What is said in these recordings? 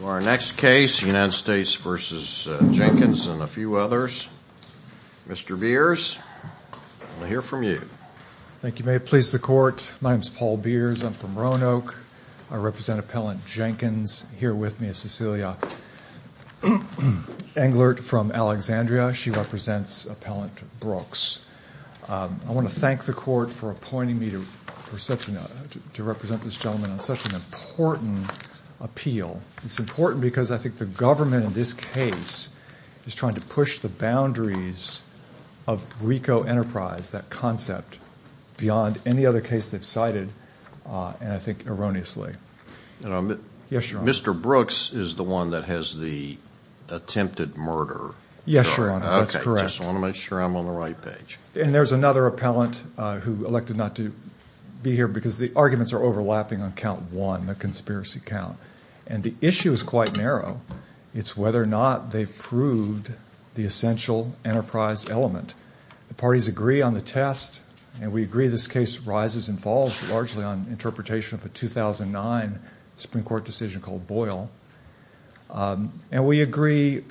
To our next case, United States v. Jenkins and a few others. Mr. Beers, I want to hear from you. Thank you. May it please the Court. My name is Paul Beers. I'm from Roanoke. I represent Appellant Jenkins. Here with me is Cecilia Englert from Alexandria. She represents Appellant Brooks. I want to thank the Court for appointing me to represent this gentleman on such an important appeal. It's important because I think the government in this case is trying to push the boundaries of RICO Enterprise, that concept, beyond any other case they've cited, and I think erroneously. Mr. Brooks is the one that has the attempted murder. Yes, Your Honor, that's correct. I just want to make sure I'm on the right page. And there's another appellant who elected not to be here because the arguments are overlapping on count one, the conspiracy count, and the issue is quite narrow. It's whether or not they've proved the essential enterprise element. The parties agree on the test, and we agree this case rises and falls largely on interpretation of a 2009 Supreme Court decision called Boyle. And we agree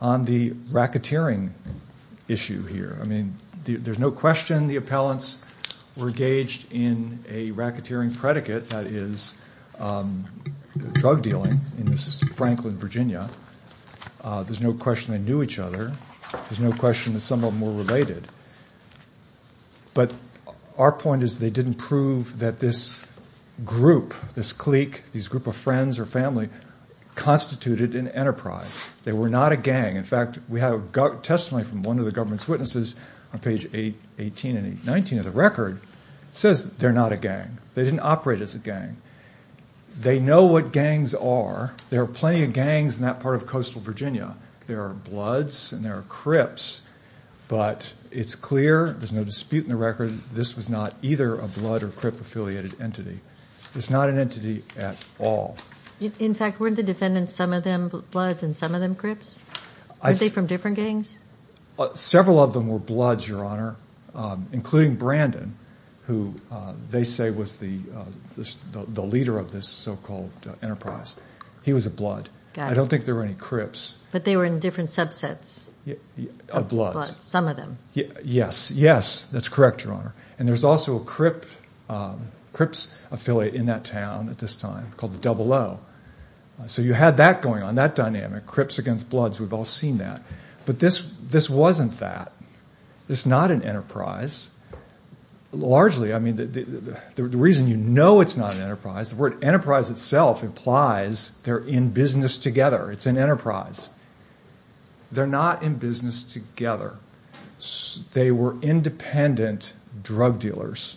on the racketeering issue here. I mean, there's no question the appellants were engaged in a racketeering predicate, that is, drug dealing in Franklin, Virginia. There's no question they knew each other. There's no question that some of them were related. But our point is they didn't prove that this group, this clique, these group of friends or family, constituted an enterprise. They were not a gang. In fact, we have testimony from one of the government's witnesses on page 18 and 19 of the record. It says they're not a gang. They didn't operate as a gang. They know what gangs are. There are plenty of gangs in that part of coastal Virginia. There are Bloods and there are Crips, but it's clear, there's no dispute in the record, this was not either a Blood or Crip-affiliated entity. It's not an entity at all. In fact, weren't the defendants, some of them Bloods and some of them Crips? Weren't they from different gangs? Several of them were Bloods, Your Honor, including Brandon, who they say was the leader of this so-called enterprise. He was a Blood. Got it. I don't think there were any Crips. But they were in different subsets of Bloods, some of them. Yes, yes, that's correct, Your Honor. And there's also a Crips affiliate in that town at this time called the Double O. So you had that going on, that dynamic, Crips against Bloods, we've all seen that. But this wasn't that. It's not an enterprise. Largely, I mean, the reason you know it's not an enterprise, the word enterprise itself implies they're in business together. It's an enterprise. They're not in business together. They were independent drug dealers.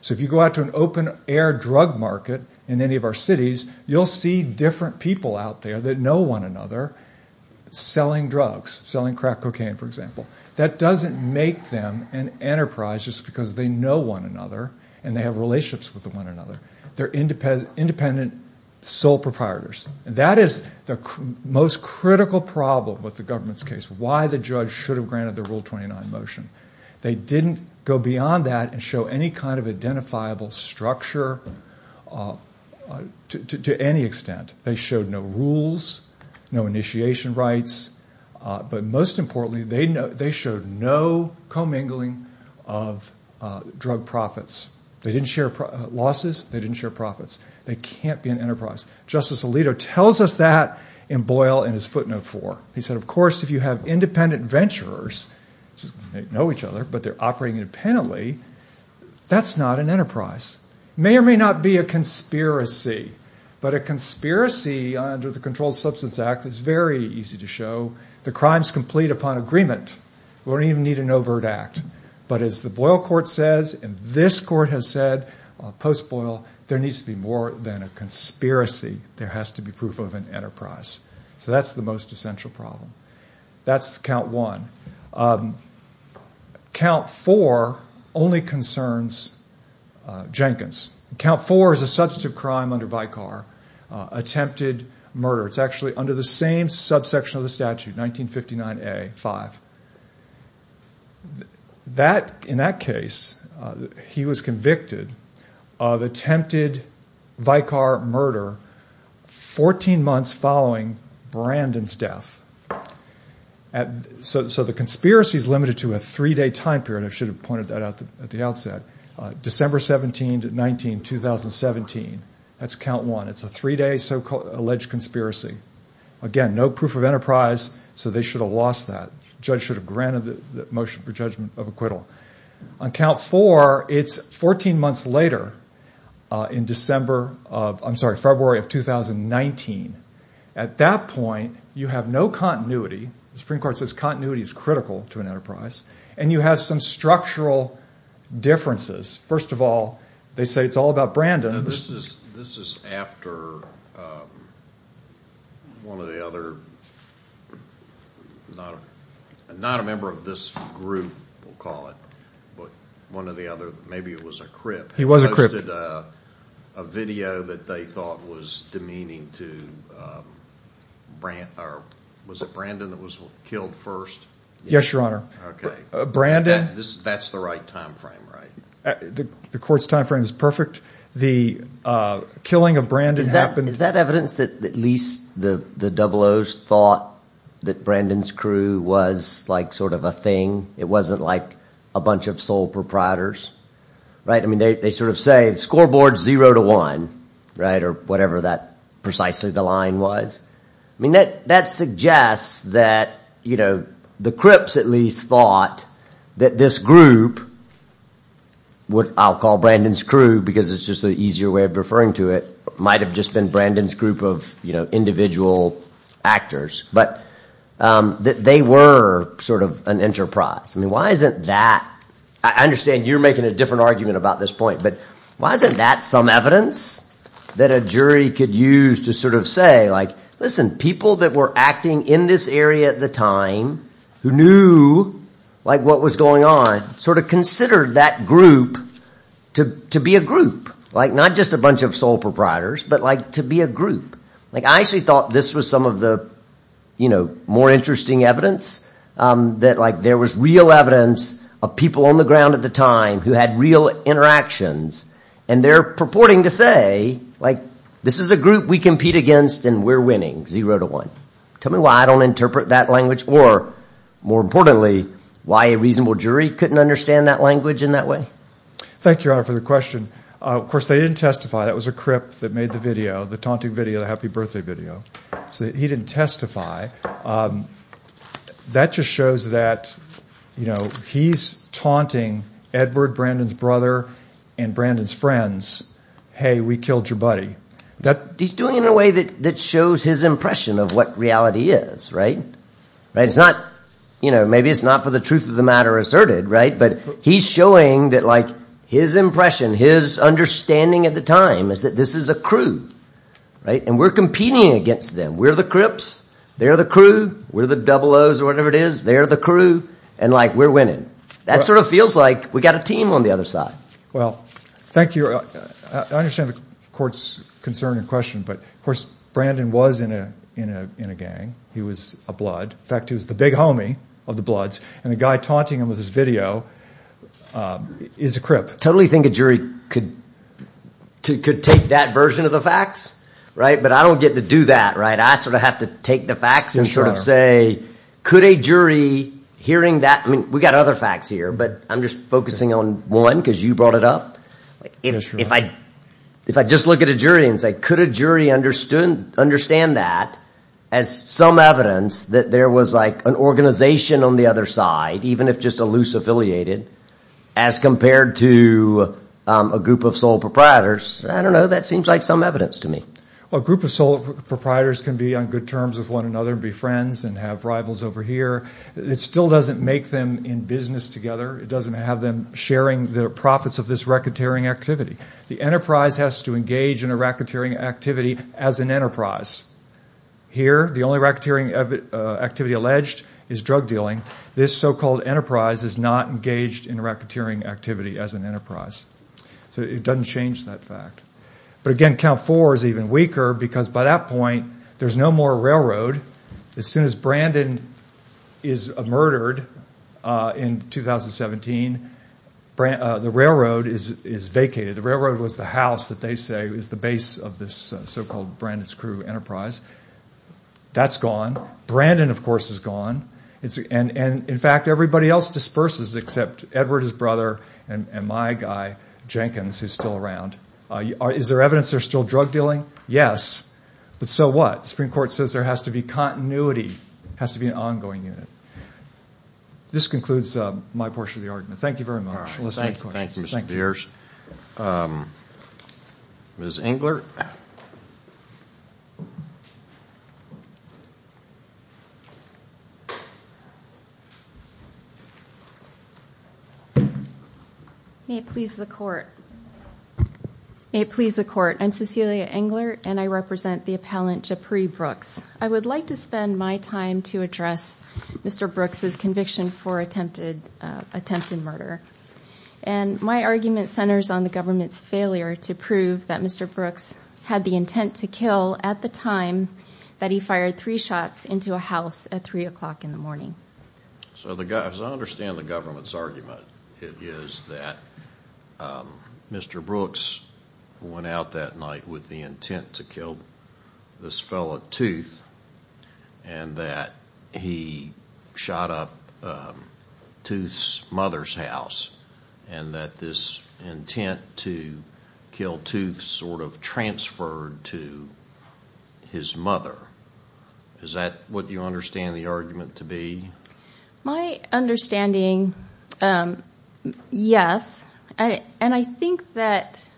So if you go out to an open-air drug market in any of our cities, you'll see different people out there that know one another selling drugs, selling crack cocaine, for example. That doesn't make them an enterprise just because they know one another and they have relationships with one another. They're independent sole proprietors. And that is the most critical problem with the government's case, why the judge should have granted the Rule 29 motion. They didn't go beyond that and show any kind of identifiable structure to any extent. They showed no rules, no initiation rights. But most importantly, they showed no commingling of drug profits. They didn't share losses. They didn't share profits. They can't be an enterprise. Justice Alito tells us that in Boyle in his footnote 4. He said, of course, if you have independent venturers, they know each other, but they're operating independently, that's not an enterprise. It may or may not be a conspiracy, but a conspiracy under the Controlled Substance Act is very easy to show. The crime's complete upon agreement. We don't even need an overt act. But as the Boyle court says, and this court has said, post-Boyle, there needs to be more than a conspiracy. There has to be proof of an enterprise. So that's the most essential problem. That's Count 1. Count 4 only concerns Jenkins. Count 4 is a substantive crime under Vicar, attempted murder. It's actually under the same subsection of the statute, 1959A, 5. In that case, he was convicted of attempted Vicar murder 14 months following Brandon's death. So the conspiracy is limited to a three-day time period. I should have pointed that out at the outset. December 17, 1917, that's Count 1. It's a three-day alleged conspiracy. Again, no proof of enterprise, so they should have lost that. The judge should have granted the motion for judgment of acquittal. On Count 4, it's 14 months later in February of 2019. At that point, you have no continuity. The Supreme Court says continuity is critical to an enterprise. And you have some structural differences. First of all, they say it's all about Brandon. This is after one of the other, not a member of this group, we'll call it, but one of the other, maybe it was a crypt. He was a crypt. A video that they thought was demeaning to, was it Brandon that was killed first? Yes, Your Honor. Okay. That's the right time frame, right? The court's time frame is perfect. The killing of Brandon happened. Is that evidence that at least the 00s thought that Brandon's crew was like sort of a thing? It wasn't like a bunch of sole proprietors, right? I mean, they sort of say scoreboard zero to one, right? Or whatever that precisely the line was. I mean, that suggests that, you know, the crypts at least thought that this group, what I'll call Brandon's crew because it's just an easier way of referring to it, might have just been Brandon's group of, you know, individual actors. But they were sort of an enterprise. I mean, why isn't that? I understand you're making a different argument about this point, but why isn't that some evidence that a jury could use to sort of say, like, listen, people that were acting in this area at the time who knew, like, what was going on sort of considered that group to be a group. Like, not just a bunch of sole proprietors, but like to be a group. Like, I actually thought this was some of the, you know, more interesting evidence that, like, there was real evidence of people on the ground at the time who had real interactions. And they're purporting to say, like, this is a group we compete against and we're winning, zero to one. Tell me why I don't interpret that language or, more importantly, why a reasonable jury couldn't understand that language in that way. Thank you, Your Honor, for the question. Of course, they didn't testify. That was a crip that made the video, the taunting video, the happy birthday video. So he didn't testify. That just shows that, you know, he's taunting Edward, Brandon's brother, and Brandon's friends, hey, we killed your buddy. He's doing it in a way that shows his impression of what reality is, right? It's not, you know, maybe it's not for the truth of the matter asserted, right? But he's showing that, like, his impression, his understanding at the time is that this is a crew, right? And we're competing against them. We're the crips. They're the crew. We're the double O's or whatever it is. They're the crew. And, like, we're winning. That sort of feels like we've got a team on the other side. Well, thank you. I understand the court's concern and question, but, of course, Brandon was in a gang. He was a blood. In fact, he was the big homie of the Bloods, and the guy taunting him with his video is a crip. I totally think a jury could take that version of the facts, right? But I don't get to do that, right? I sort of have to take the facts and sort of say, could a jury, hearing that, I mean, we've got other facts here, but I'm just focusing on one because you brought it up. If I just look at a jury and say, could a jury understand that as some evidence that there was, like, an organization on the other side, even if just a loose affiliated, as compared to a group of sole proprietors, I don't know. That seems like some evidence to me. Well, a group of sole proprietors can be on good terms with one another and be friends and have rivals over here. It still doesn't make them in business together. It doesn't have them sharing the profits of this racketeering activity. The enterprise has to engage in a racketeering activity as an enterprise. Here, the only racketeering activity alleged is drug dealing. This so-called enterprise is not engaged in a racketeering activity as an enterprise. So it doesn't change that fact. But, again, count four is even weaker because, by that point, there's no more railroad. As soon as Brandon is murdered in 2017, the railroad is vacated. The railroad was the house that they say is the base of this so-called Brandon's crew enterprise. That's gone. Brandon, of course, is gone. And, in fact, everybody else disperses except Edward, his brother, and my guy Jenkins, who's still around. Is there evidence there's still drug dealing? Yes. But so what? The Supreme Court says there has to be continuity. It has to be an ongoing unit. This concludes my portion of the argument. Thank you very much. Thank you, Mr. Beers. Ms. Engler? May it please the Court. May it please the Court. I'm Cecilia Engler, and I represent the appellant J'Pree Brooks. I would like to spend my time to address Mr. Brooks' conviction for attempted murder. And my argument centers on the government's failure to prove that Mr. Brooks had the intent to kill at the time that he fired three shots into a house at 3 o'clock in the morning. As I understand the government's argument, it is that Mr. Brooks went out that night with the intent to kill this fellow, Tooth, and that he shot up Tooth's mother's house, and that this intent to kill Tooth sort of transferred to his mother. Is that what you understand the argument to be? My understanding, yes. And I think that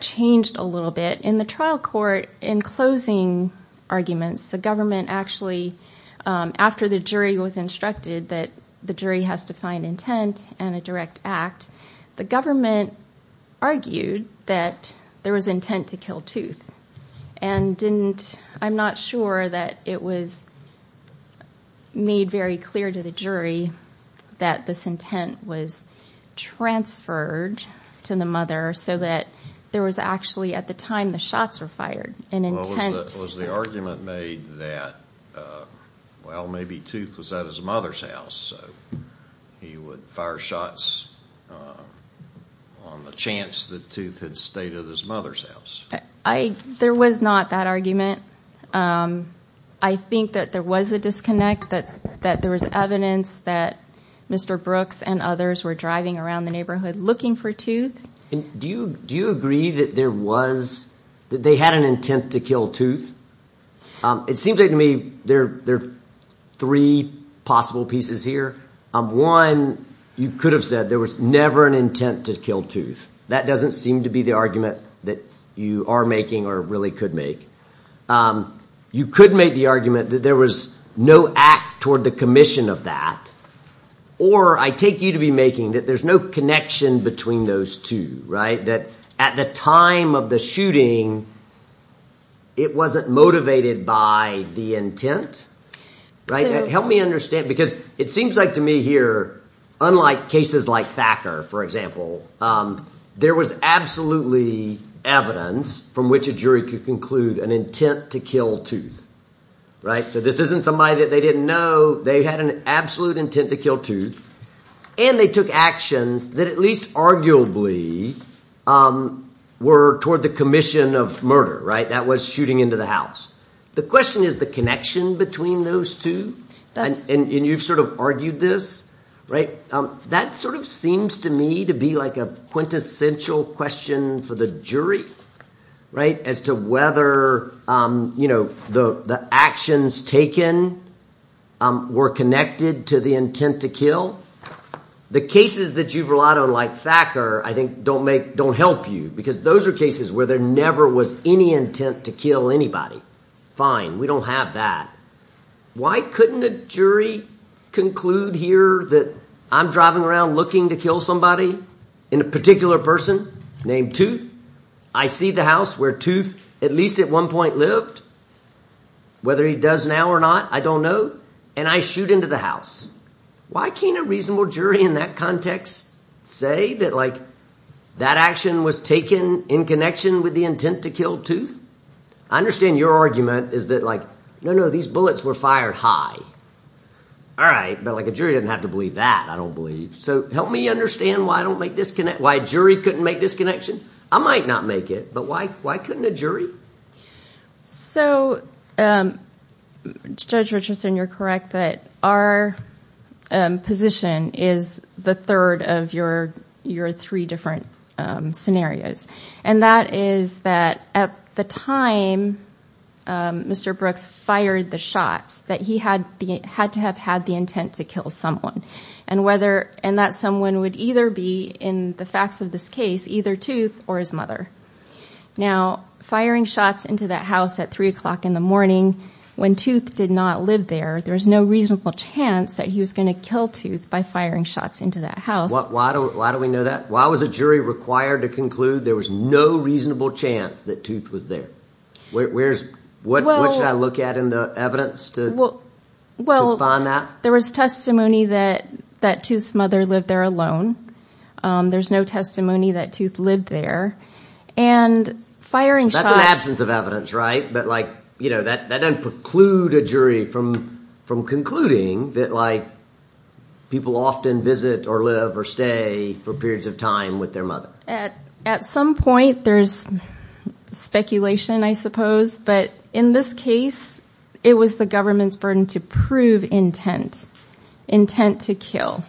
changed a little bit. In the trial court, in closing arguments, the government actually, after the jury was instructed that the jury has to find intent and a direct act, the government argued that there was intent to kill Tooth. And I'm not sure that it was made very clear to the jury that this intent was transferred to the mother so that there was actually, at the time the shots were fired, an intent. Was the argument made that, well, maybe Tooth was at his mother's house, so he would fire shots on the chance that Tooth had stayed at his mother's house? There was not that argument. I think that there was a disconnect, that there was evidence that Mr. Brooks and others were driving around the neighborhood looking for Tooth. Do you agree that there was, that they had an intent to kill Tooth? It seems like to me there are three possible pieces here. One, you could have said there was never an intent to kill Tooth. That doesn't seem to be the argument that you are making or really could make. You could make the argument that there was no act toward the commission of that. Or I take you to be making that there's no connection between those two, right? That at the time of the shooting, it wasn't motivated by the intent. Help me understand, because it seems like to me here, unlike cases like Thacker, for example, there was absolutely evidence from which a jury could conclude an intent to kill Tooth. So this isn't somebody that they didn't know. They had an absolute intent to kill Tooth, and they took actions that at least arguably were toward the commission of murder. That was shooting into the house. The question is the connection between those two, and you've sort of argued this, right? That sort of seems to me to be like a quintessential question for the jury, right, as to whether the actions taken were connected to the intent to kill. The cases that you've relied on, like Thacker, I think don't help you, because those are cases where there never was any intent to kill anybody. Fine, we don't have that. Why couldn't a jury conclude here that I'm driving around looking to kill somebody in a particular person named Tooth? I see the house where Tooth at least at one point lived. Whether he does now or not, I don't know, and I shoot into the house. Why can't a reasonable jury in that context say that, like, that action was taken in connection with the intent to kill Tooth? I understand your argument is that, like, no, no, these bullets were fired high. All right, but, like, a jury doesn't have to believe that, I don't believe. So help me understand why a jury couldn't make this connection. I might not make it, but why couldn't a jury? So, Judge Richardson, you're correct that our position is the third of your three different scenarios, and that is that at the time Mr. Brooks fired the shots, that he had to have had the intent to kill someone, and that someone would either be, in the facts of this case, either Tooth or his mother. Now, firing shots into that house at 3 o'clock in the morning when Tooth did not live there, there's no reasonable chance that he was going to kill Tooth by firing shots into that house. Why do we know that? Why was a jury required to conclude there was no reasonable chance that Tooth was there? What should I look at in the evidence to find that? Well, there was testimony that Tooth's mother lived there alone. There's no testimony that Tooth lived there, and firing shots… That's an absence of evidence, right? But, like, you know, that doesn't preclude a jury from concluding that, like, people often visit or live or stay for periods of time with their mother. At some point, there's speculation, I suppose, but in this case, it was the government's burden to prove intent, intent to kill.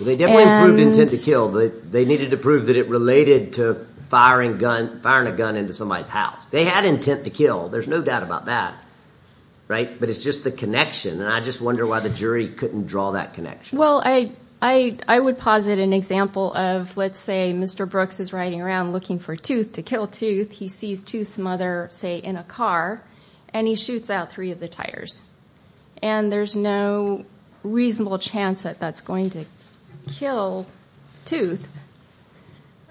They definitely proved intent to kill. They needed to prove that it related to firing a gun into somebody's house. They had intent to kill. There's no doubt about that, right? But it's just the connection, and I just wonder why the jury couldn't draw that connection. Well, I would posit an example of, let's say, Mr. Brooks is riding around looking for Tooth to kill Tooth. He sees Tooth's mother, say, in a car, and he shoots out three of the tires, and there's no reasonable chance that that's going to kill Tooth.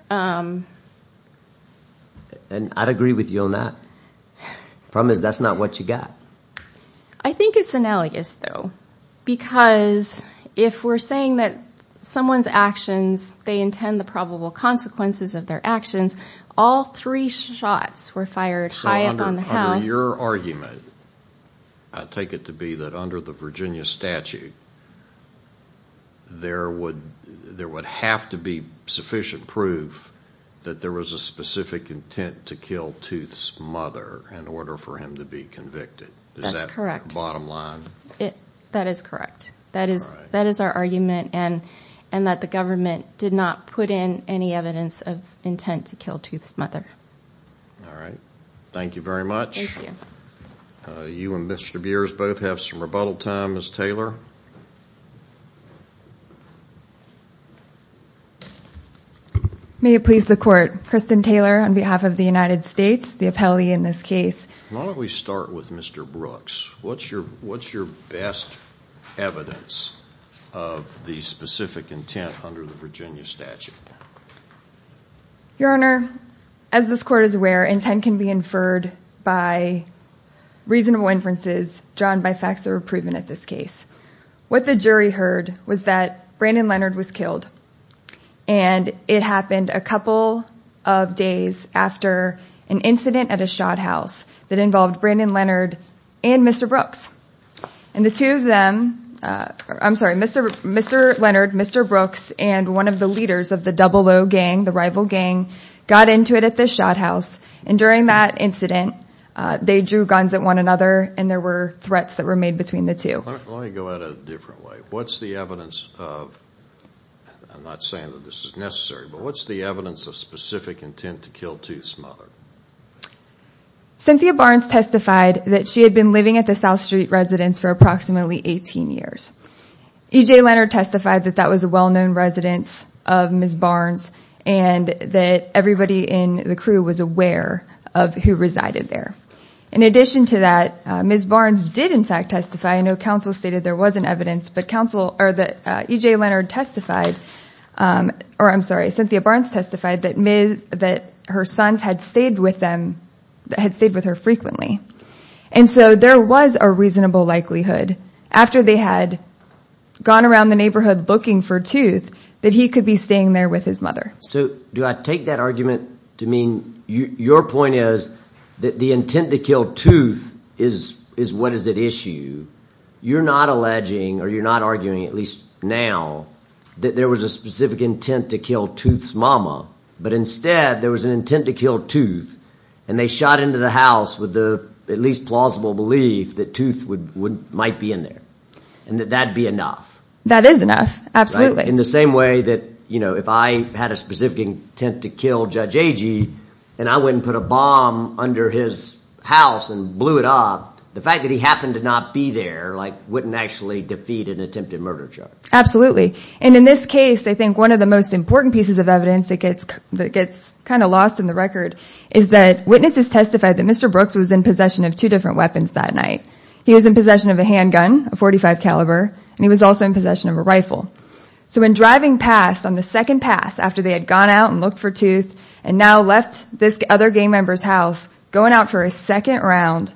And I'd agree with you on that. Problem is that's not what you got. I think it's analogous, though, because if we're saying that someone's actions, they intend the probable consequences of their actions, all three shots were fired high up on the house. So your argument, I take it to be that under the Virginia statute, there would have to be sufficient proof that there was a specific intent to kill Tooth's mother in order for him to be convicted. Is that the bottom line? That is correct. That is our argument, and that the government did not put in any evidence of intent to kill Tooth's mother. All right. Thank you very much. You and Mr. Beers both have some rebuttal time. Ms. Taylor? May it please the Court. Kristen Taylor on behalf of the United States, the appellee in this case. Why don't we start with Mr. Brooks? What's your best evidence of the specific intent under the Virginia statute? Your Honor, as this Court is aware, intent can be inferred by reasonable inferences drawn by facts or proven at this case. What the jury heard was that Brandon Leonard was killed, and it happened a couple of days after an incident at a shot house that involved Brandon Leonard and Mr. Brooks. And the two of them, I'm sorry, Mr. Leonard, Mr. Brooks, and one of the leaders of the Double O gang, the rival gang, got into it at this shot house. And during that incident, they drew guns at one another, and there were threats that were made between the two. Let me go at it a different way. What's the evidence of, I'm not saying that this is necessary, but what's the evidence of specific intent to kill Tooth's mother? Cynthia Barnes testified that she had been living at the South Street residence for approximately 18 years. E.J. Leonard testified that that was a well-known residence of Ms. Barnes and that everybody in the crew was aware of who resided there. In addition to that, Ms. Barnes did, in fact, testify. I know counsel stated there wasn't evidence, but E.J. Leonard testified, or I'm sorry, Cynthia Barnes testified that her sons had stayed with her frequently. And so there was a reasonable likelihood, after they had gone around the neighborhood looking for Tooth, that he could be staying there with his mother. So do I take that argument to mean your point is that the intent to kill Tooth is what is at issue? You're not alleging or you're not arguing, at least now, that there was a specific intent to kill Tooth's mama, but instead there was an intent to kill Tooth. And they shot into the house with the at least plausible belief that Tooth might be in there and that that would be enough. That is enough, absolutely. In the same way that if I had a specific intent to kill Judge Agee and I went and put a bomb under his house and blew it up, the fact that he happened to not be there wouldn't actually defeat an attempted murder charge. Absolutely. And in this case, I think one of the most important pieces of evidence that gets kind of lost in the record is that witnesses testified that Mr. Brooks was in possession of two different weapons that night. He was in possession of a handgun, a .45 caliber, and he was also in possession of a rifle. So when driving past on the second pass after they had gone out and looked for Tooth and now left this other gang member's house, going out for a second round,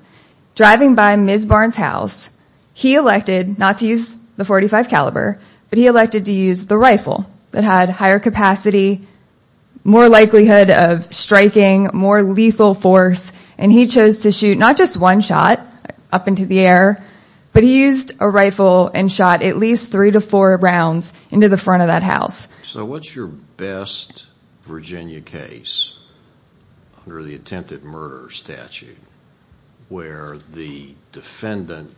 driving by Ms. Barnes' house, he elected not to use the .45 caliber, but he elected to use the rifle that had higher capacity, more likelihood of striking, more lethal force. And he chose to shoot not just one shot up into the air, but he used a rifle and shot at least three to four rounds into the front of that house. So what's your best Virginia case under the attempted murder statute where the defendant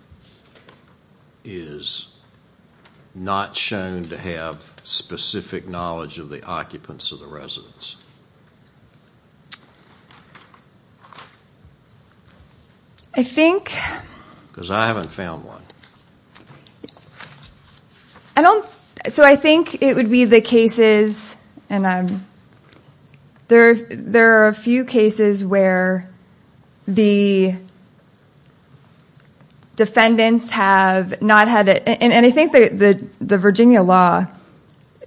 is not shown to have specific knowledge of the occupants of the residence? I think... Because I haven't found one. I don't... So I think it would be the cases, and there are a few cases where the defendants have not had... And I think the Virginia law,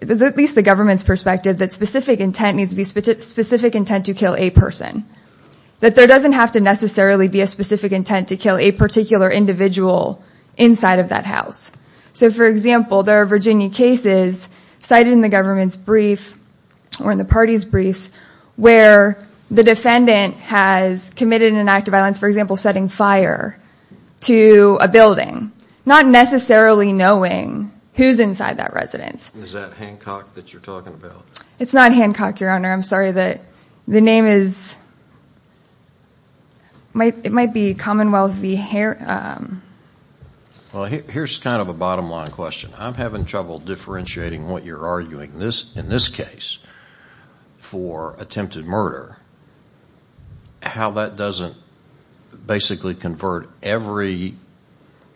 at least the government's perspective, that specific intent needs to be specific intent to kill a person. That there doesn't have to necessarily be a specific intent to kill a particular individual inside of that house. So for example, there are Virginia cases cited in the government's brief or in the party's briefs where the defendant has committed an act of violence, for example, setting fire to a building. Not necessarily knowing who's inside that residence. Is that Hancock that you're talking about? It's not Hancock, Your Honor. I'm sorry. The name is... It might be Commonwealth v. Har... Well, here's kind of a bottom line question. I'm having trouble differentiating what you're arguing in this case for attempted murder. How that doesn't basically convert every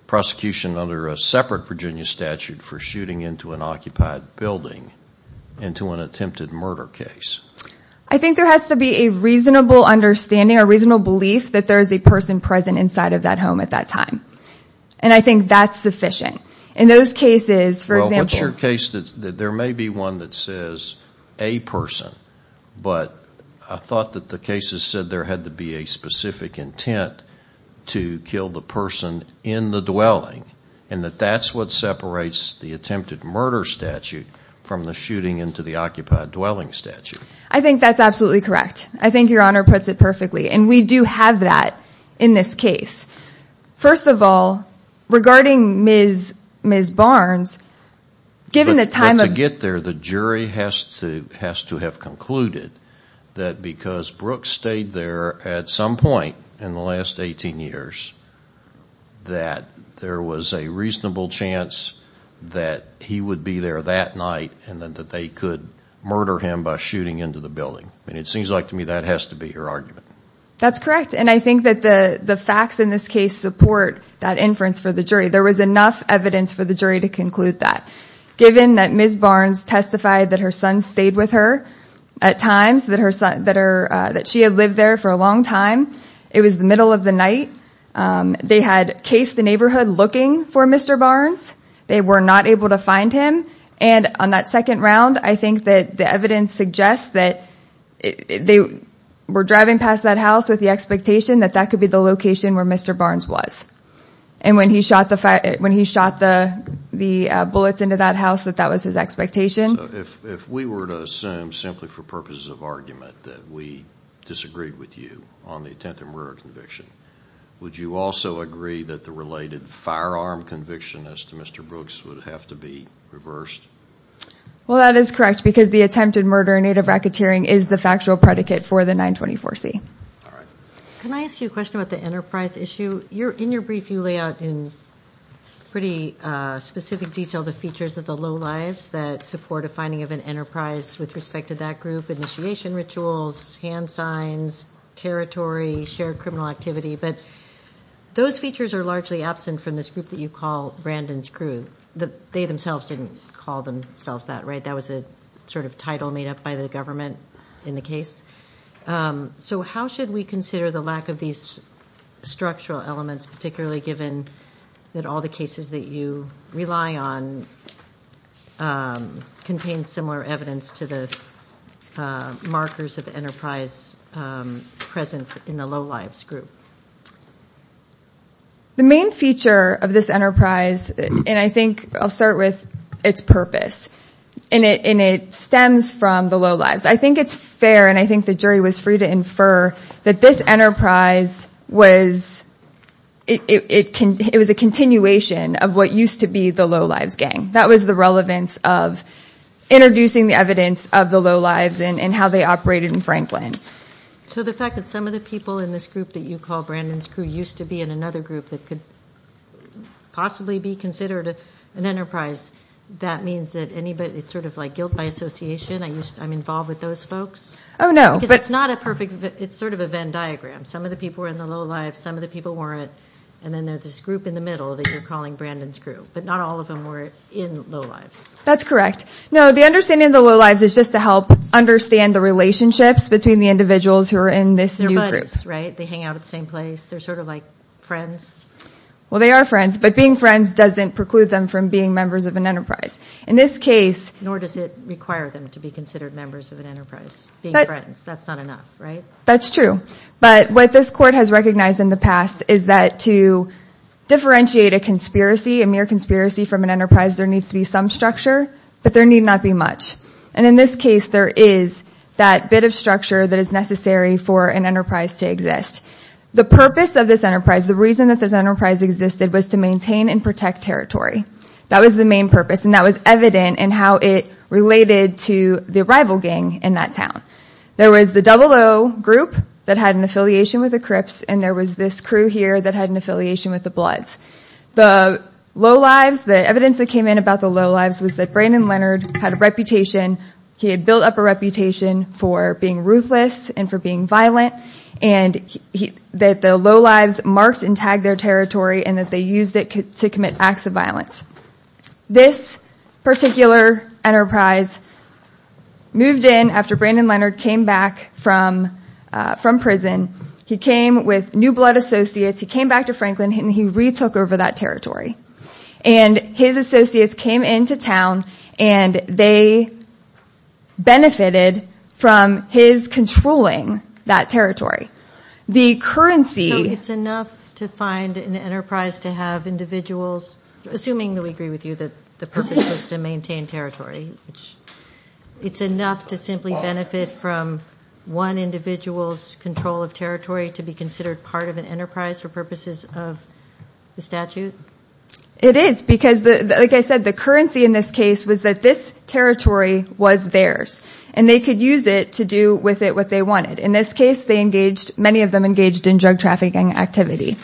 prosecution under a separate Virginia statute for shooting into an occupied building into an attempted murder case. I think there has to be a reasonable understanding, a reasonable belief that there is a person present inside of that home at that time. And I think that's sufficient. In those cases, for example... Well, what's your case that there may be one that says a person. But I thought that the cases said there had to be a specific intent to kill the person in the dwelling. And that that's what separates the attempted murder statute from the shooting into the occupied dwelling statute. I think that's absolutely correct. I think Your Honor puts it perfectly. And we do have that in this case. First of all, regarding Ms. Barnes, given the time of... But to get there, the jury has to have concluded that because Brooks stayed there at some point in the last 18 years, that there was a reasonable chance that he would be there that night and that they could murder him by shooting into the building. And it seems like to me that has to be your argument. That's correct. And I think that the facts in this case support that inference for the jury. There was enough evidence for the jury to conclude that. Given that Ms. Barnes testified that her son stayed with her at times, that she had lived there for a long time. It was the middle of the night. They had cased the neighborhood looking for Mr. Barnes. They were not able to find him. And on that second round, I think that the evidence suggests that they were driving past that house with the expectation that that could be the location where Mr. Barnes was. And when he shot the bullets into that house, that that was his expectation. So if we were to assume simply for purposes of argument that we disagreed with you on the attempted murder conviction, would you also agree that the related firearm conviction as to Mr. Brooks would have to be reversed? Well, that is correct because the attempted murder in Native racketeering is the factual predicate for the 924C. All right. Can I ask you a question about the enterprise issue? In your brief, you lay out in pretty specific detail the features of the low lives that support a finding of an enterprise with respect to that group. Initiation rituals, hand signs, territory, shared criminal activity. But those features are largely absent from this group that you call Brandon's crew. They themselves didn't call themselves that, right? That was a sort of title made up by the government in the case. So how should we consider the lack of these structural elements, particularly given that all the cases that you rely on contain similar evidence to the markers of enterprise present in the low lives group? The main feature of this enterprise, and I think I'll start with its purpose, and it stems from the low lives. I think it's fair, and I think the jury was free to infer that this enterprise was a continuation of what used to be the low lives gang. That was the relevance of introducing the evidence of the low lives and how they operated in Franklin. So the fact that some of the people in this group that you call Brandon's crew used to be in another group that could possibly be considered an enterprise, that means that anybody, it's sort of like guilt by association, I'm involved with those folks? Oh, no. Because it's not a perfect, it's sort of a Venn diagram. Some of the people were in the low lives, some of the people weren't, and then there's this group in the middle that you're calling Brandon's crew. But not all of them were in low lives. That's correct. No, the understanding of the low lives is just to help understand the relationships between the individuals who are in this new group. They're buddies, right? They hang out at the same place. They're sort of like friends. Well, they are friends, but being friends doesn't preclude them from being members of an enterprise. In this case. Nor does it require them to be considered members of an enterprise. Being friends, that's not enough, right? That's true. But what this court has recognized in the past is that to differentiate a conspiracy, a mere conspiracy from an enterprise, there needs to be some structure, but there need not be much. And in this case, there is that bit of structure that is necessary for an enterprise to exist. The purpose of this enterprise, the reason that this enterprise existed was to maintain and protect territory. That was the main purpose, and that was evident in how it related to the rival gang in that town. There was the 00 group that had an affiliation with the Crips, and there was this crew here that had an affiliation with the Bloods. The low lives, the evidence that came in about the low lives was that Brandon Leonard had a reputation. He had built up a reputation for being ruthless and for being violent. And that the low lives marked and tagged their territory, and that they used it to commit acts of violence. This particular enterprise moved in after Brandon Leonard came back from prison. He came with new Blood associates. He came back to Franklin, and he retook over that territory. And his associates came into town, and they benefited from his controlling that territory. The currency... So it's enough to find an enterprise to have individuals, assuming that we agree with you that the purpose was to maintain territory. It's enough to simply benefit from one individual's control of territory to be considered part of an enterprise for purposes of the statute? It is, because like I said, the currency in this case was that this territory was theirs. And they could use it to do with it what they wanted. In this case, many of them engaged in drug trafficking activity.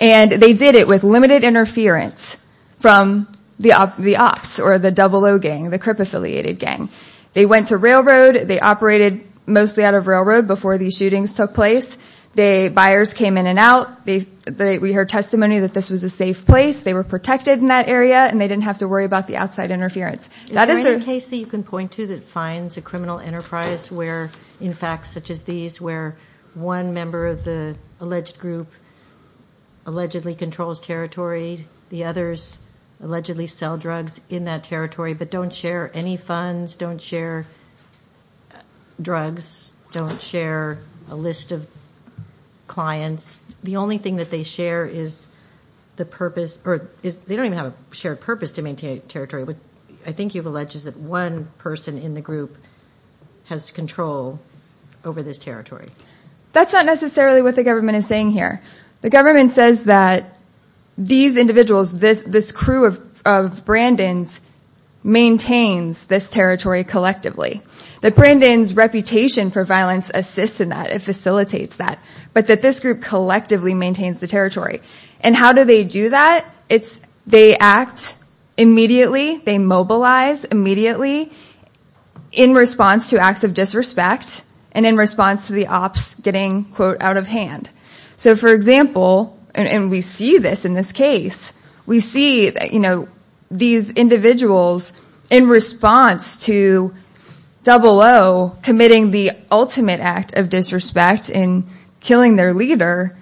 And they did it with limited interference from the ops, or the 00 gang, the crip-affiliated gang. They went to railroad. They operated mostly out of railroad before these shootings took place. The buyers came in and out. We heard testimony that this was a safe place. They were protected in that area, and they didn't have to worry about the outside interference. Is there any case that you can point to that finds a criminal enterprise where, in fact, such as these, where one member of the alleged group allegedly controls territory? The others allegedly sell drugs in that territory but don't share any funds, don't share drugs, don't share a list of clients? The only thing that they share is the purpose, or they don't even have a shared purpose to maintain territory. But I think you've alleged that one person in the group has control over this territory. That's not necessarily what the government is saying here. The government says that these individuals, this crew of Brandon's, maintains this territory collectively. That Brandon's reputation for violence assists in that. It facilitates that. But that this group collectively maintains the territory. And how do they do that? They act immediately. They mobilize immediately in response to acts of disrespect and in response to the ops getting, quote, out of hand. So, for example, and we see this in this case, we see these individuals in response to 00 committing the ultimate act of disrespect and killing their leader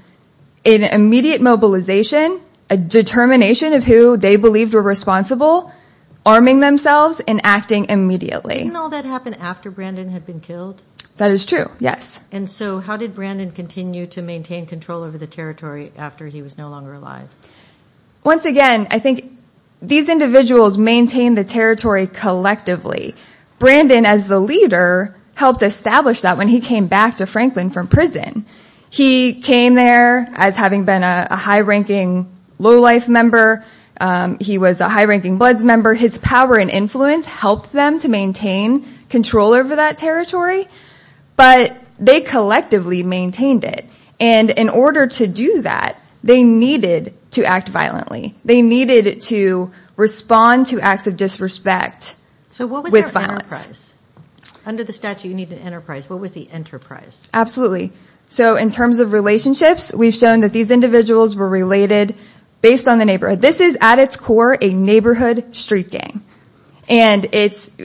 in immediate mobilization, a determination of who they believed were responsible, arming themselves, and acting immediately. Didn't all that happen after Brandon had been killed? That is true, yes. And so how did Brandon continue to maintain control over the territory after he was no longer alive? Once again, I think these individuals maintain the territory collectively. Brandon, as the leader, helped establish that when he came back to Franklin from prison. He came there as having been a high-ranking low-life member. He was a high-ranking Bloods member. His power and influence helped them to maintain control over that territory. But they collectively maintained it. And in order to do that, they needed to act violently. They needed to respond to acts of disrespect with violence. So what was their enterprise? Under the statute, you need an enterprise. What was the enterprise? Absolutely. So in terms of relationships, we've shown that these individuals were related based on the neighborhood. This is, at its core, a neighborhood street gang. And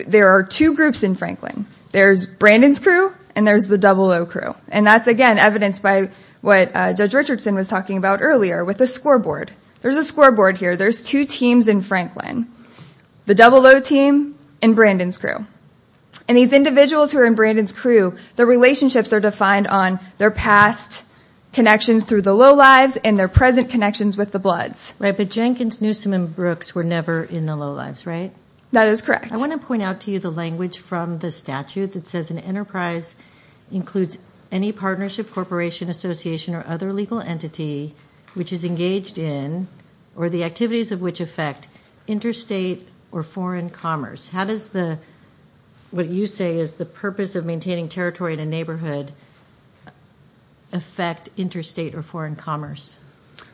there are two groups in Franklin. There's Brandon's crew and there's the double-O crew. And that's, again, evidenced by what Judge Richardson was talking about earlier with the scoreboard. There's a scoreboard here. There's two teams in Franklin, the double-O team and Brandon's crew. And these individuals who are in Brandon's crew, their relationships are defined on their past connections through the low-lives and their present connections with the Bloods. Right, but Jenkins, Newsom, and Brooks were never in the low-lives, right? That is correct. I want to point out to you the language from the statute that says an enterprise includes any partnership, corporation, association, or other legal entity which is engaged in or the activities of which affect interstate or foreign commerce. How does what you say is the purpose of maintaining territory in a neighborhood affect interstate or foreign commerce?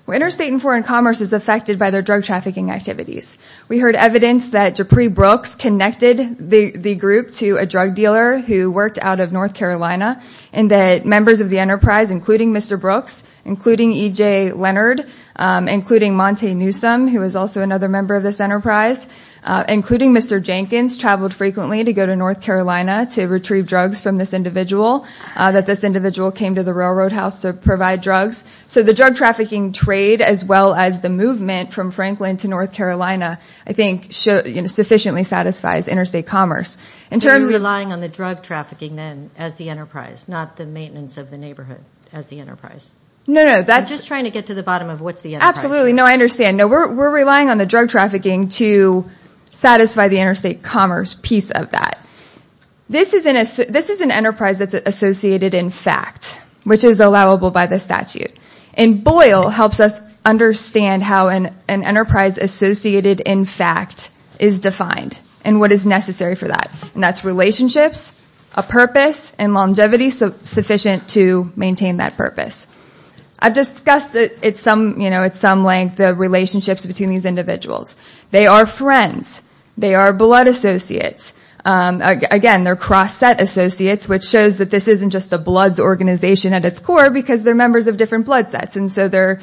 Well, interstate and foreign commerce is affected by their drug trafficking activities. We heard evidence that J'Pree Brooks connected the group to a drug dealer who worked out of North Carolina and that members of the enterprise, including Mr. Brooks, including E.J. Leonard, including Monte Newsom, who was also another member of this enterprise, including Mr. Jenkins, traveled frequently to go to North Carolina to retrieve drugs from this individual, that this individual came to the railroad house to provide drugs. So the drug trafficking trade as well as the movement from Franklin to North Carolina I think sufficiently satisfies interstate commerce. So you're relying on the drug trafficking then as the enterprise, not the maintenance of the neighborhood as the enterprise? No, no. I'm just trying to get to the bottom of what's the enterprise. Absolutely. No, I understand. No, we're relying on the drug trafficking to satisfy the interstate commerce piece of that. This is an enterprise that's associated in fact, which is allowable by the statute. And Boyle helps us understand how an enterprise associated in fact is defined and what is necessary for that. And that's relationships, a purpose, and longevity sufficient to maintain that purpose. I've discussed at some length the relationships between these individuals. They are friends. They are blood associates. Again, they're cross-set associates, which shows that this isn't just a bloods organization at its core because they're members of different blood sets. And so they're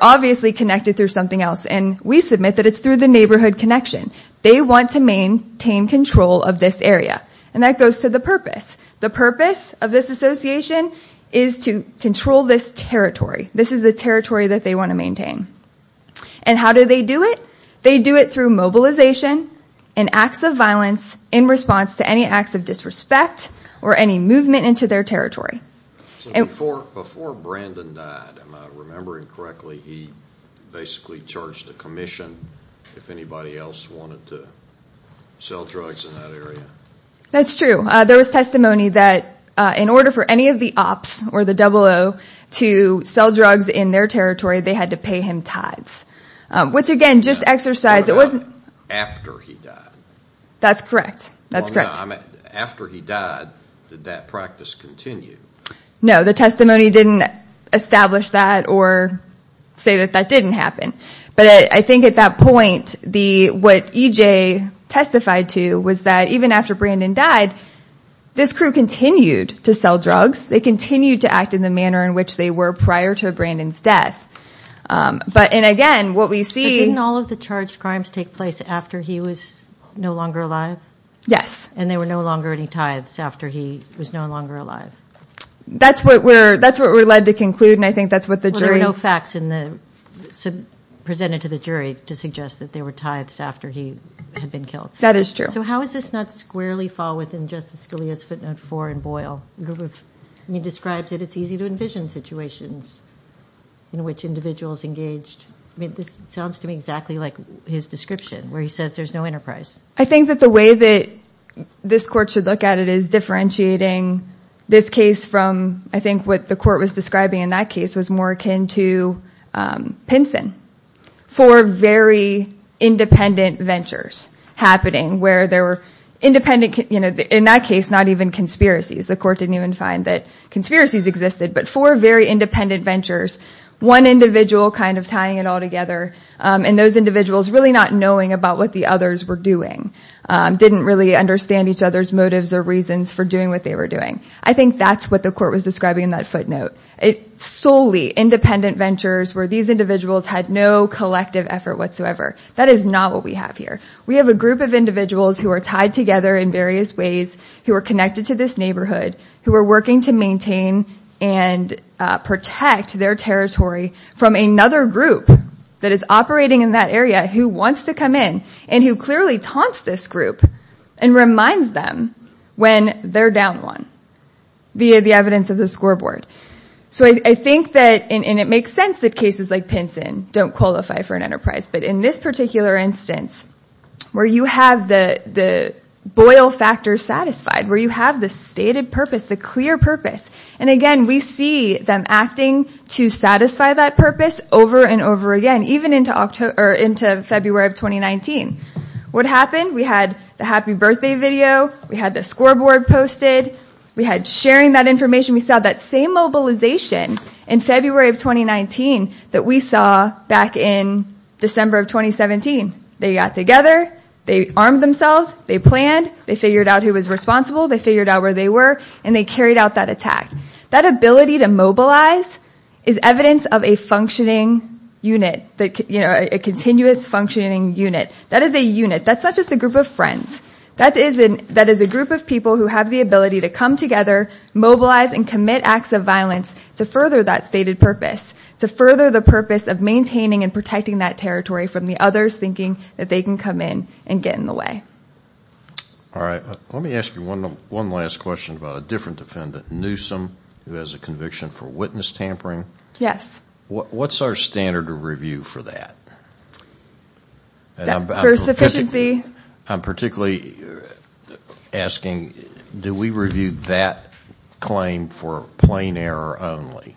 obviously connected through something else. And we submit that it's through the neighborhood connection. They want to maintain control of this area. And that goes to the purpose. The purpose of this association is to control this territory. This is the territory that they want to maintain. And how do they do it? They do it through mobilization and acts of violence in response to any acts of disrespect or any movement into their territory. Before Brandon died, if I'm remembering correctly, he basically charged a commission if anybody else wanted to sell drugs in that area. That's true. There was testimony that in order for any of the ops or the 00 to sell drugs in their territory, they had to pay him tithes. Which again, just exercise, it wasn't- After he died. That's correct. That's correct. After he died, did that practice continue? No, the testimony didn't establish that or say that that didn't happen. But I think at that point, what EJ testified to was that even after Brandon died, this crew continued to sell drugs. They continued to act in the manner in which they were prior to Brandon's death. And again, what we see- But didn't all of the charged crimes take place after he was no longer alive? Yes. And there were no longer any tithes after he was no longer alive? That's what we're led to conclude, and I think that's what the jury- Well, there were no facts presented to the jury to suggest that there were tithes after he had been killed. That is true. So how does this not squarely fall within Justice Scalia's footnote four in Boyle? He describes that it's easy to envision situations in which individuals engaged- I mean, this sounds to me exactly like his description where he says there's no enterprise. I think that the way that this Court should look at it is differentiating this case from, I think, what the Court was describing in that case was more akin to Pinson. Four very independent ventures happening where there were independent- You can find that conspiracies existed, but four very independent ventures, one individual kind of tying it all together, and those individuals really not knowing about what the others were doing, didn't really understand each other's motives or reasons for doing what they were doing. I think that's what the Court was describing in that footnote. Solely independent ventures where these individuals had no collective effort whatsoever. That is not what we have here. We have a group of individuals who are tied together in various ways, who are connected to this neighborhood, who are working to maintain and protect their territory from another group that is operating in that area who wants to come in and who clearly taunts this group and reminds them when they're down one via the evidence of the scoreboard. I think that it makes sense that cases like Pinson don't qualify for an enterprise, but in this particular instance where you have the boil factor satisfied, where you have the stated purpose, the clear purpose, and again we see them acting to satisfy that purpose over and over again, even into February of 2019. What happened? We had the happy birthday video. We had the scoreboard posted. We had sharing that information. We saw that same mobilization in February of 2019 that we saw back in December of 2017. They got together. They armed themselves. They planned. They figured out who was responsible. They figured out where they were, and they carried out that attack. That ability to mobilize is evidence of a functioning unit, a continuous functioning unit. That is a unit. That's not just a group of friends. That is a group of people who have the ability to come together, mobilize, and commit acts of violence to further that stated purpose, to further the purpose of maintaining and protecting that territory from the others thinking that they can come in and get in the way. All right. Let me ask you one last question about a different defendant, Newsom, who has a conviction for witness tampering. Yes. What's our standard of review for that? For sufficiency. I'm particularly asking, do we review that claim for plain error only?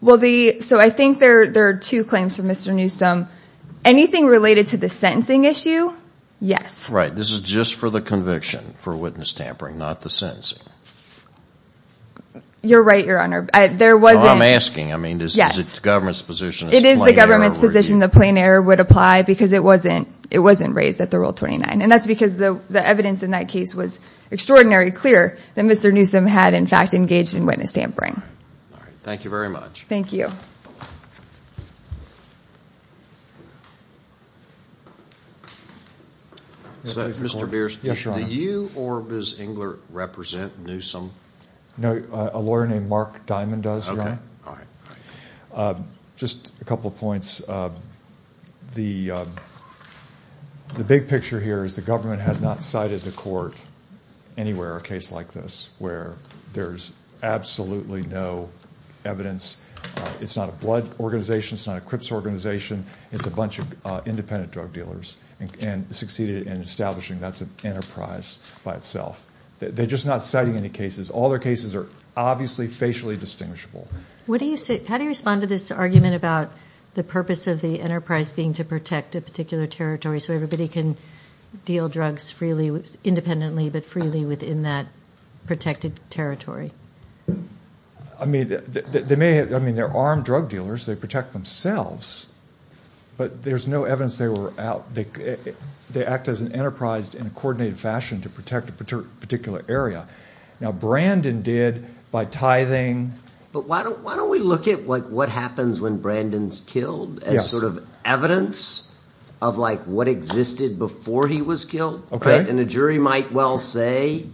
Well, so I think there are two claims from Mr. Newsom. Anything related to the sentencing issue, yes. Right. This is just for the conviction for witness tampering, not the sentencing. You're right, Your Honor. I'm asking. I mean, is it the government's position it's plain error? Plain error would apply because it wasn't raised at the Rule 29, and that's because the evidence in that case was extraordinarily clear that Mr. Newsom had, in fact, engaged in witness tampering. All right. Thank you very much. Thank you. Mr. Bierce. Yes, Your Honor. Do you or Ms. Engler represent Newsom? No. A lawyer named Mark Diamond does, Your Honor. Okay. All right. Just a couple of points. The big picture here is the government has not cited the court anywhere a case like this where there's absolutely no evidence. It's not a blood organization. It's not a Crips organization. It's a bunch of independent drug dealers and succeeded in establishing that's an enterprise by itself. They're just not citing any cases. All their cases are obviously facially distinguishable. How do you respond to this argument about the purpose of the enterprise being to protect a particular territory so everybody can deal drugs independently but freely within that protected territory? I mean, they're armed drug dealers. They protect themselves, but there's no evidence they were out. They act as an enterprise in a coordinated fashion to protect a particular area. Now, Brandon did by tithing. But why don't we look at, like, what happens when Brandon's killed as sort of evidence of, like, what existed before he was killed? Okay. And a jury might well say,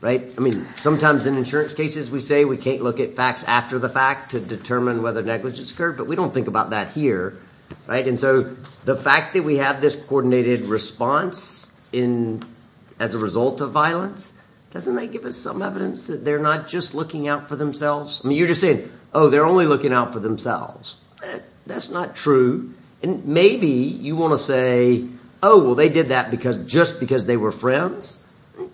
right? I mean, sometimes in insurance cases we say we can't look at facts after the fact to determine whether negligence occurred, but we don't think about that here, right? And so the fact that we have this coordinated response as a result of violence, doesn't that give us some evidence that they're not just looking out for themselves? I mean, you're just saying, oh, they're only looking out for themselves. That's not true. And maybe you want to say, oh, well, they did that just because they were friends?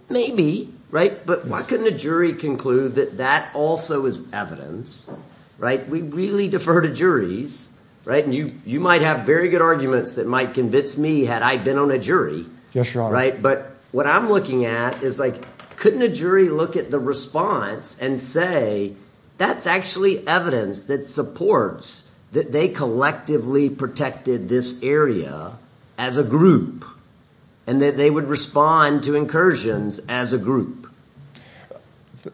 Maybe, right? But why couldn't a jury conclude that that also is evidence, right? We really defer to juries, right? And you might have very good arguments that might convince me had I been on a jury. Yes, Your Honor. But what I'm looking at is, like, couldn't a jury look at the response and say that's actually evidence that supports that they collectively protected this area as a group and that they would respond to incursions as a group?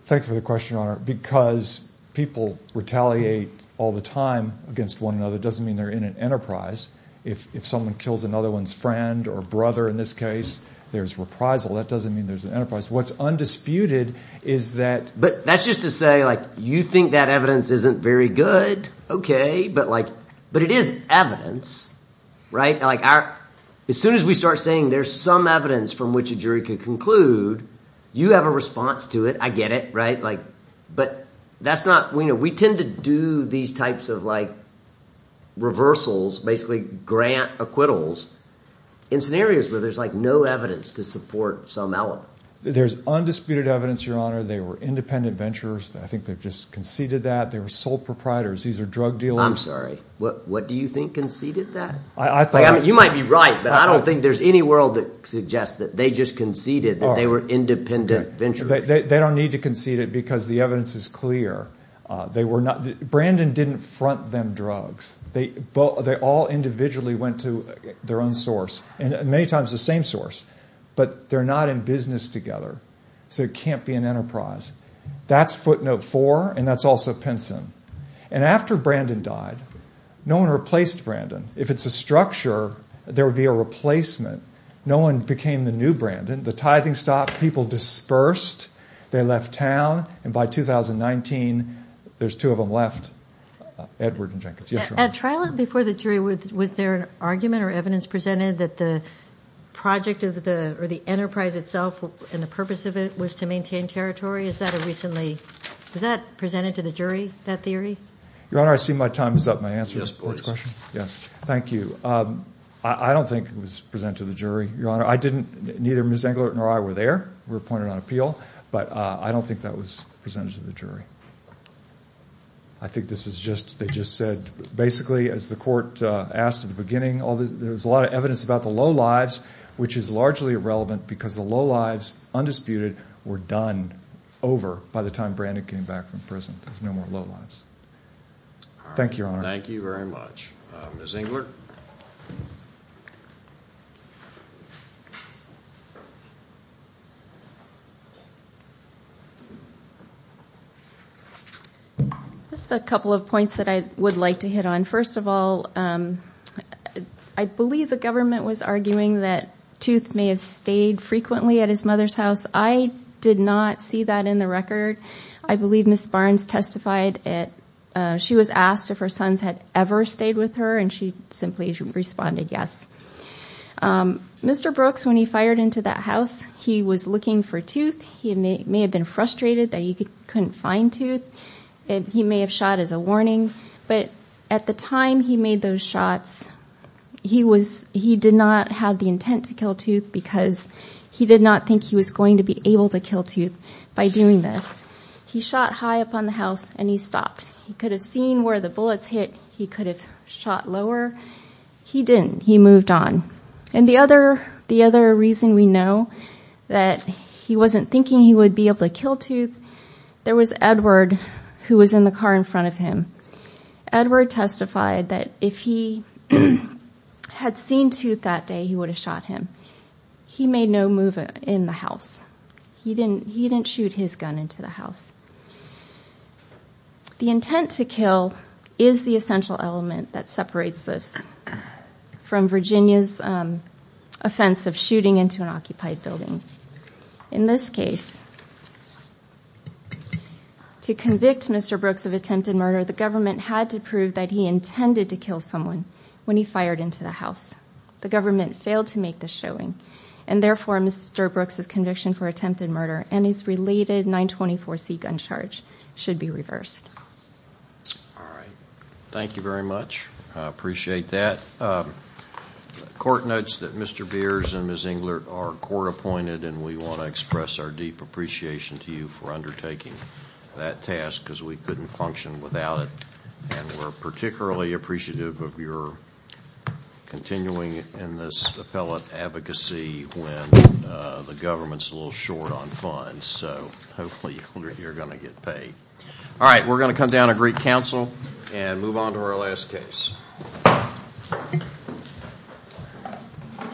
Thank you for the question, Your Honor. Because people retaliate all the time against one another doesn't mean they're in an enterprise. If someone kills another one's friend or brother in this case, there's reprisal. That doesn't mean there's an enterprise. What's undisputed is that. But that's just to say, like, you think that evidence isn't very good? But, like, but it is evidence, right? Like, as soon as we start saying there's some evidence from which a jury could conclude, you have a response to it. I get it, right? Like, but that's not. We tend to do these types of, like, reversals, basically grant acquittals in scenarios where there's, like, no evidence to support some element. There's undisputed evidence, Your Honor. They were independent venturers. I think they've just conceded that. They were sole proprietors. These are drug dealers. I'm sorry. What do you think conceded that? You might be right, but I don't think there's any world that suggests that they just conceded that they were independent venturers. They don't need to concede it because the evidence is clear. They were not. Brandon didn't front them drugs. They all individually went to their own source and many times the same source, but they're not in business together, so it can't be an enterprise. That's footnote four, and that's also Pinson. And after Brandon died, no one replaced Brandon. If it's a structure, there would be a replacement. No one became the new Brandon. The tithing stopped. People dispersed. They left town, and by 2019, there's two of them left, Edward and Jenkins. Yes, Your Honor. At trial before the jury, was there an argument or evidence presented that the project or the enterprise itself and the purpose of it was to maintain territory? Was that presented to the jury, that theory? Your Honor, I see my time is up. May I answer this court's question? Thank you. I don't think it was presented to the jury, Your Honor. Neither Ms. Englert nor I were there. We were appointed on appeal, but I don't think that was presented to the jury. I think they just said basically, as the court asked at the beginning, there was a lot of evidence about the low lives, which is largely irrelevant because the low lives, undisputed, were done over by the time Brandon came back from prison. There's no more low lives. Thank you, Your Honor. Thank you very much. Ms. Englert? Just a couple of points that I would like to hit on. First of all, I believe the government was arguing that Tooth may have stayed frequently at his mother's house. I did not see that in the record. I believe Ms. Barnes testified. She was asked if her sons had ever stayed with her, and she simply responded yes. Mr. Brooks, when he fired into that house, he was looking for Tooth. He may have been frustrated that he couldn't find Tooth. He may have shot as a warning. But at the time he made those shots, he did not have the intent to kill Tooth because he did not think he was going to be able to kill Tooth by doing this. He shot high up on the house, and he stopped. He could have seen where the bullets hit. He could have shot lower. He didn't. He moved on. And the other reason we know that he wasn't thinking he would be able to kill Tooth, there was Edward who was in the car in front of him. Edward testified that if he had seen Tooth that day, he would have shot him. He made no move in the house. He didn't shoot his gun into the house. The intent to kill is the essential element that separates this from Virginia's offense of shooting into an occupied building. In this case, to convict Mr. Brooks of attempted murder, the government had to prove that he intended to kill someone when he fired into the house. The government failed to make this showing, and therefore Mr. Brooks' conviction for attempted murder and his related 924c gun charge should be reversed. All right. Thank you very much. I appreciate that. The court notes that Mr. Beers and Ms. Englert are court-appointed, and we want to express our deep appreciation to you for undertaking that task because we couldn't function without it, and we're particularly appreciative of your continuing in this appellate advocacy when the government's a little short on funds. So hopefully you're going to get paid. All right. We're going to come down and greet counsel and move on to our last case.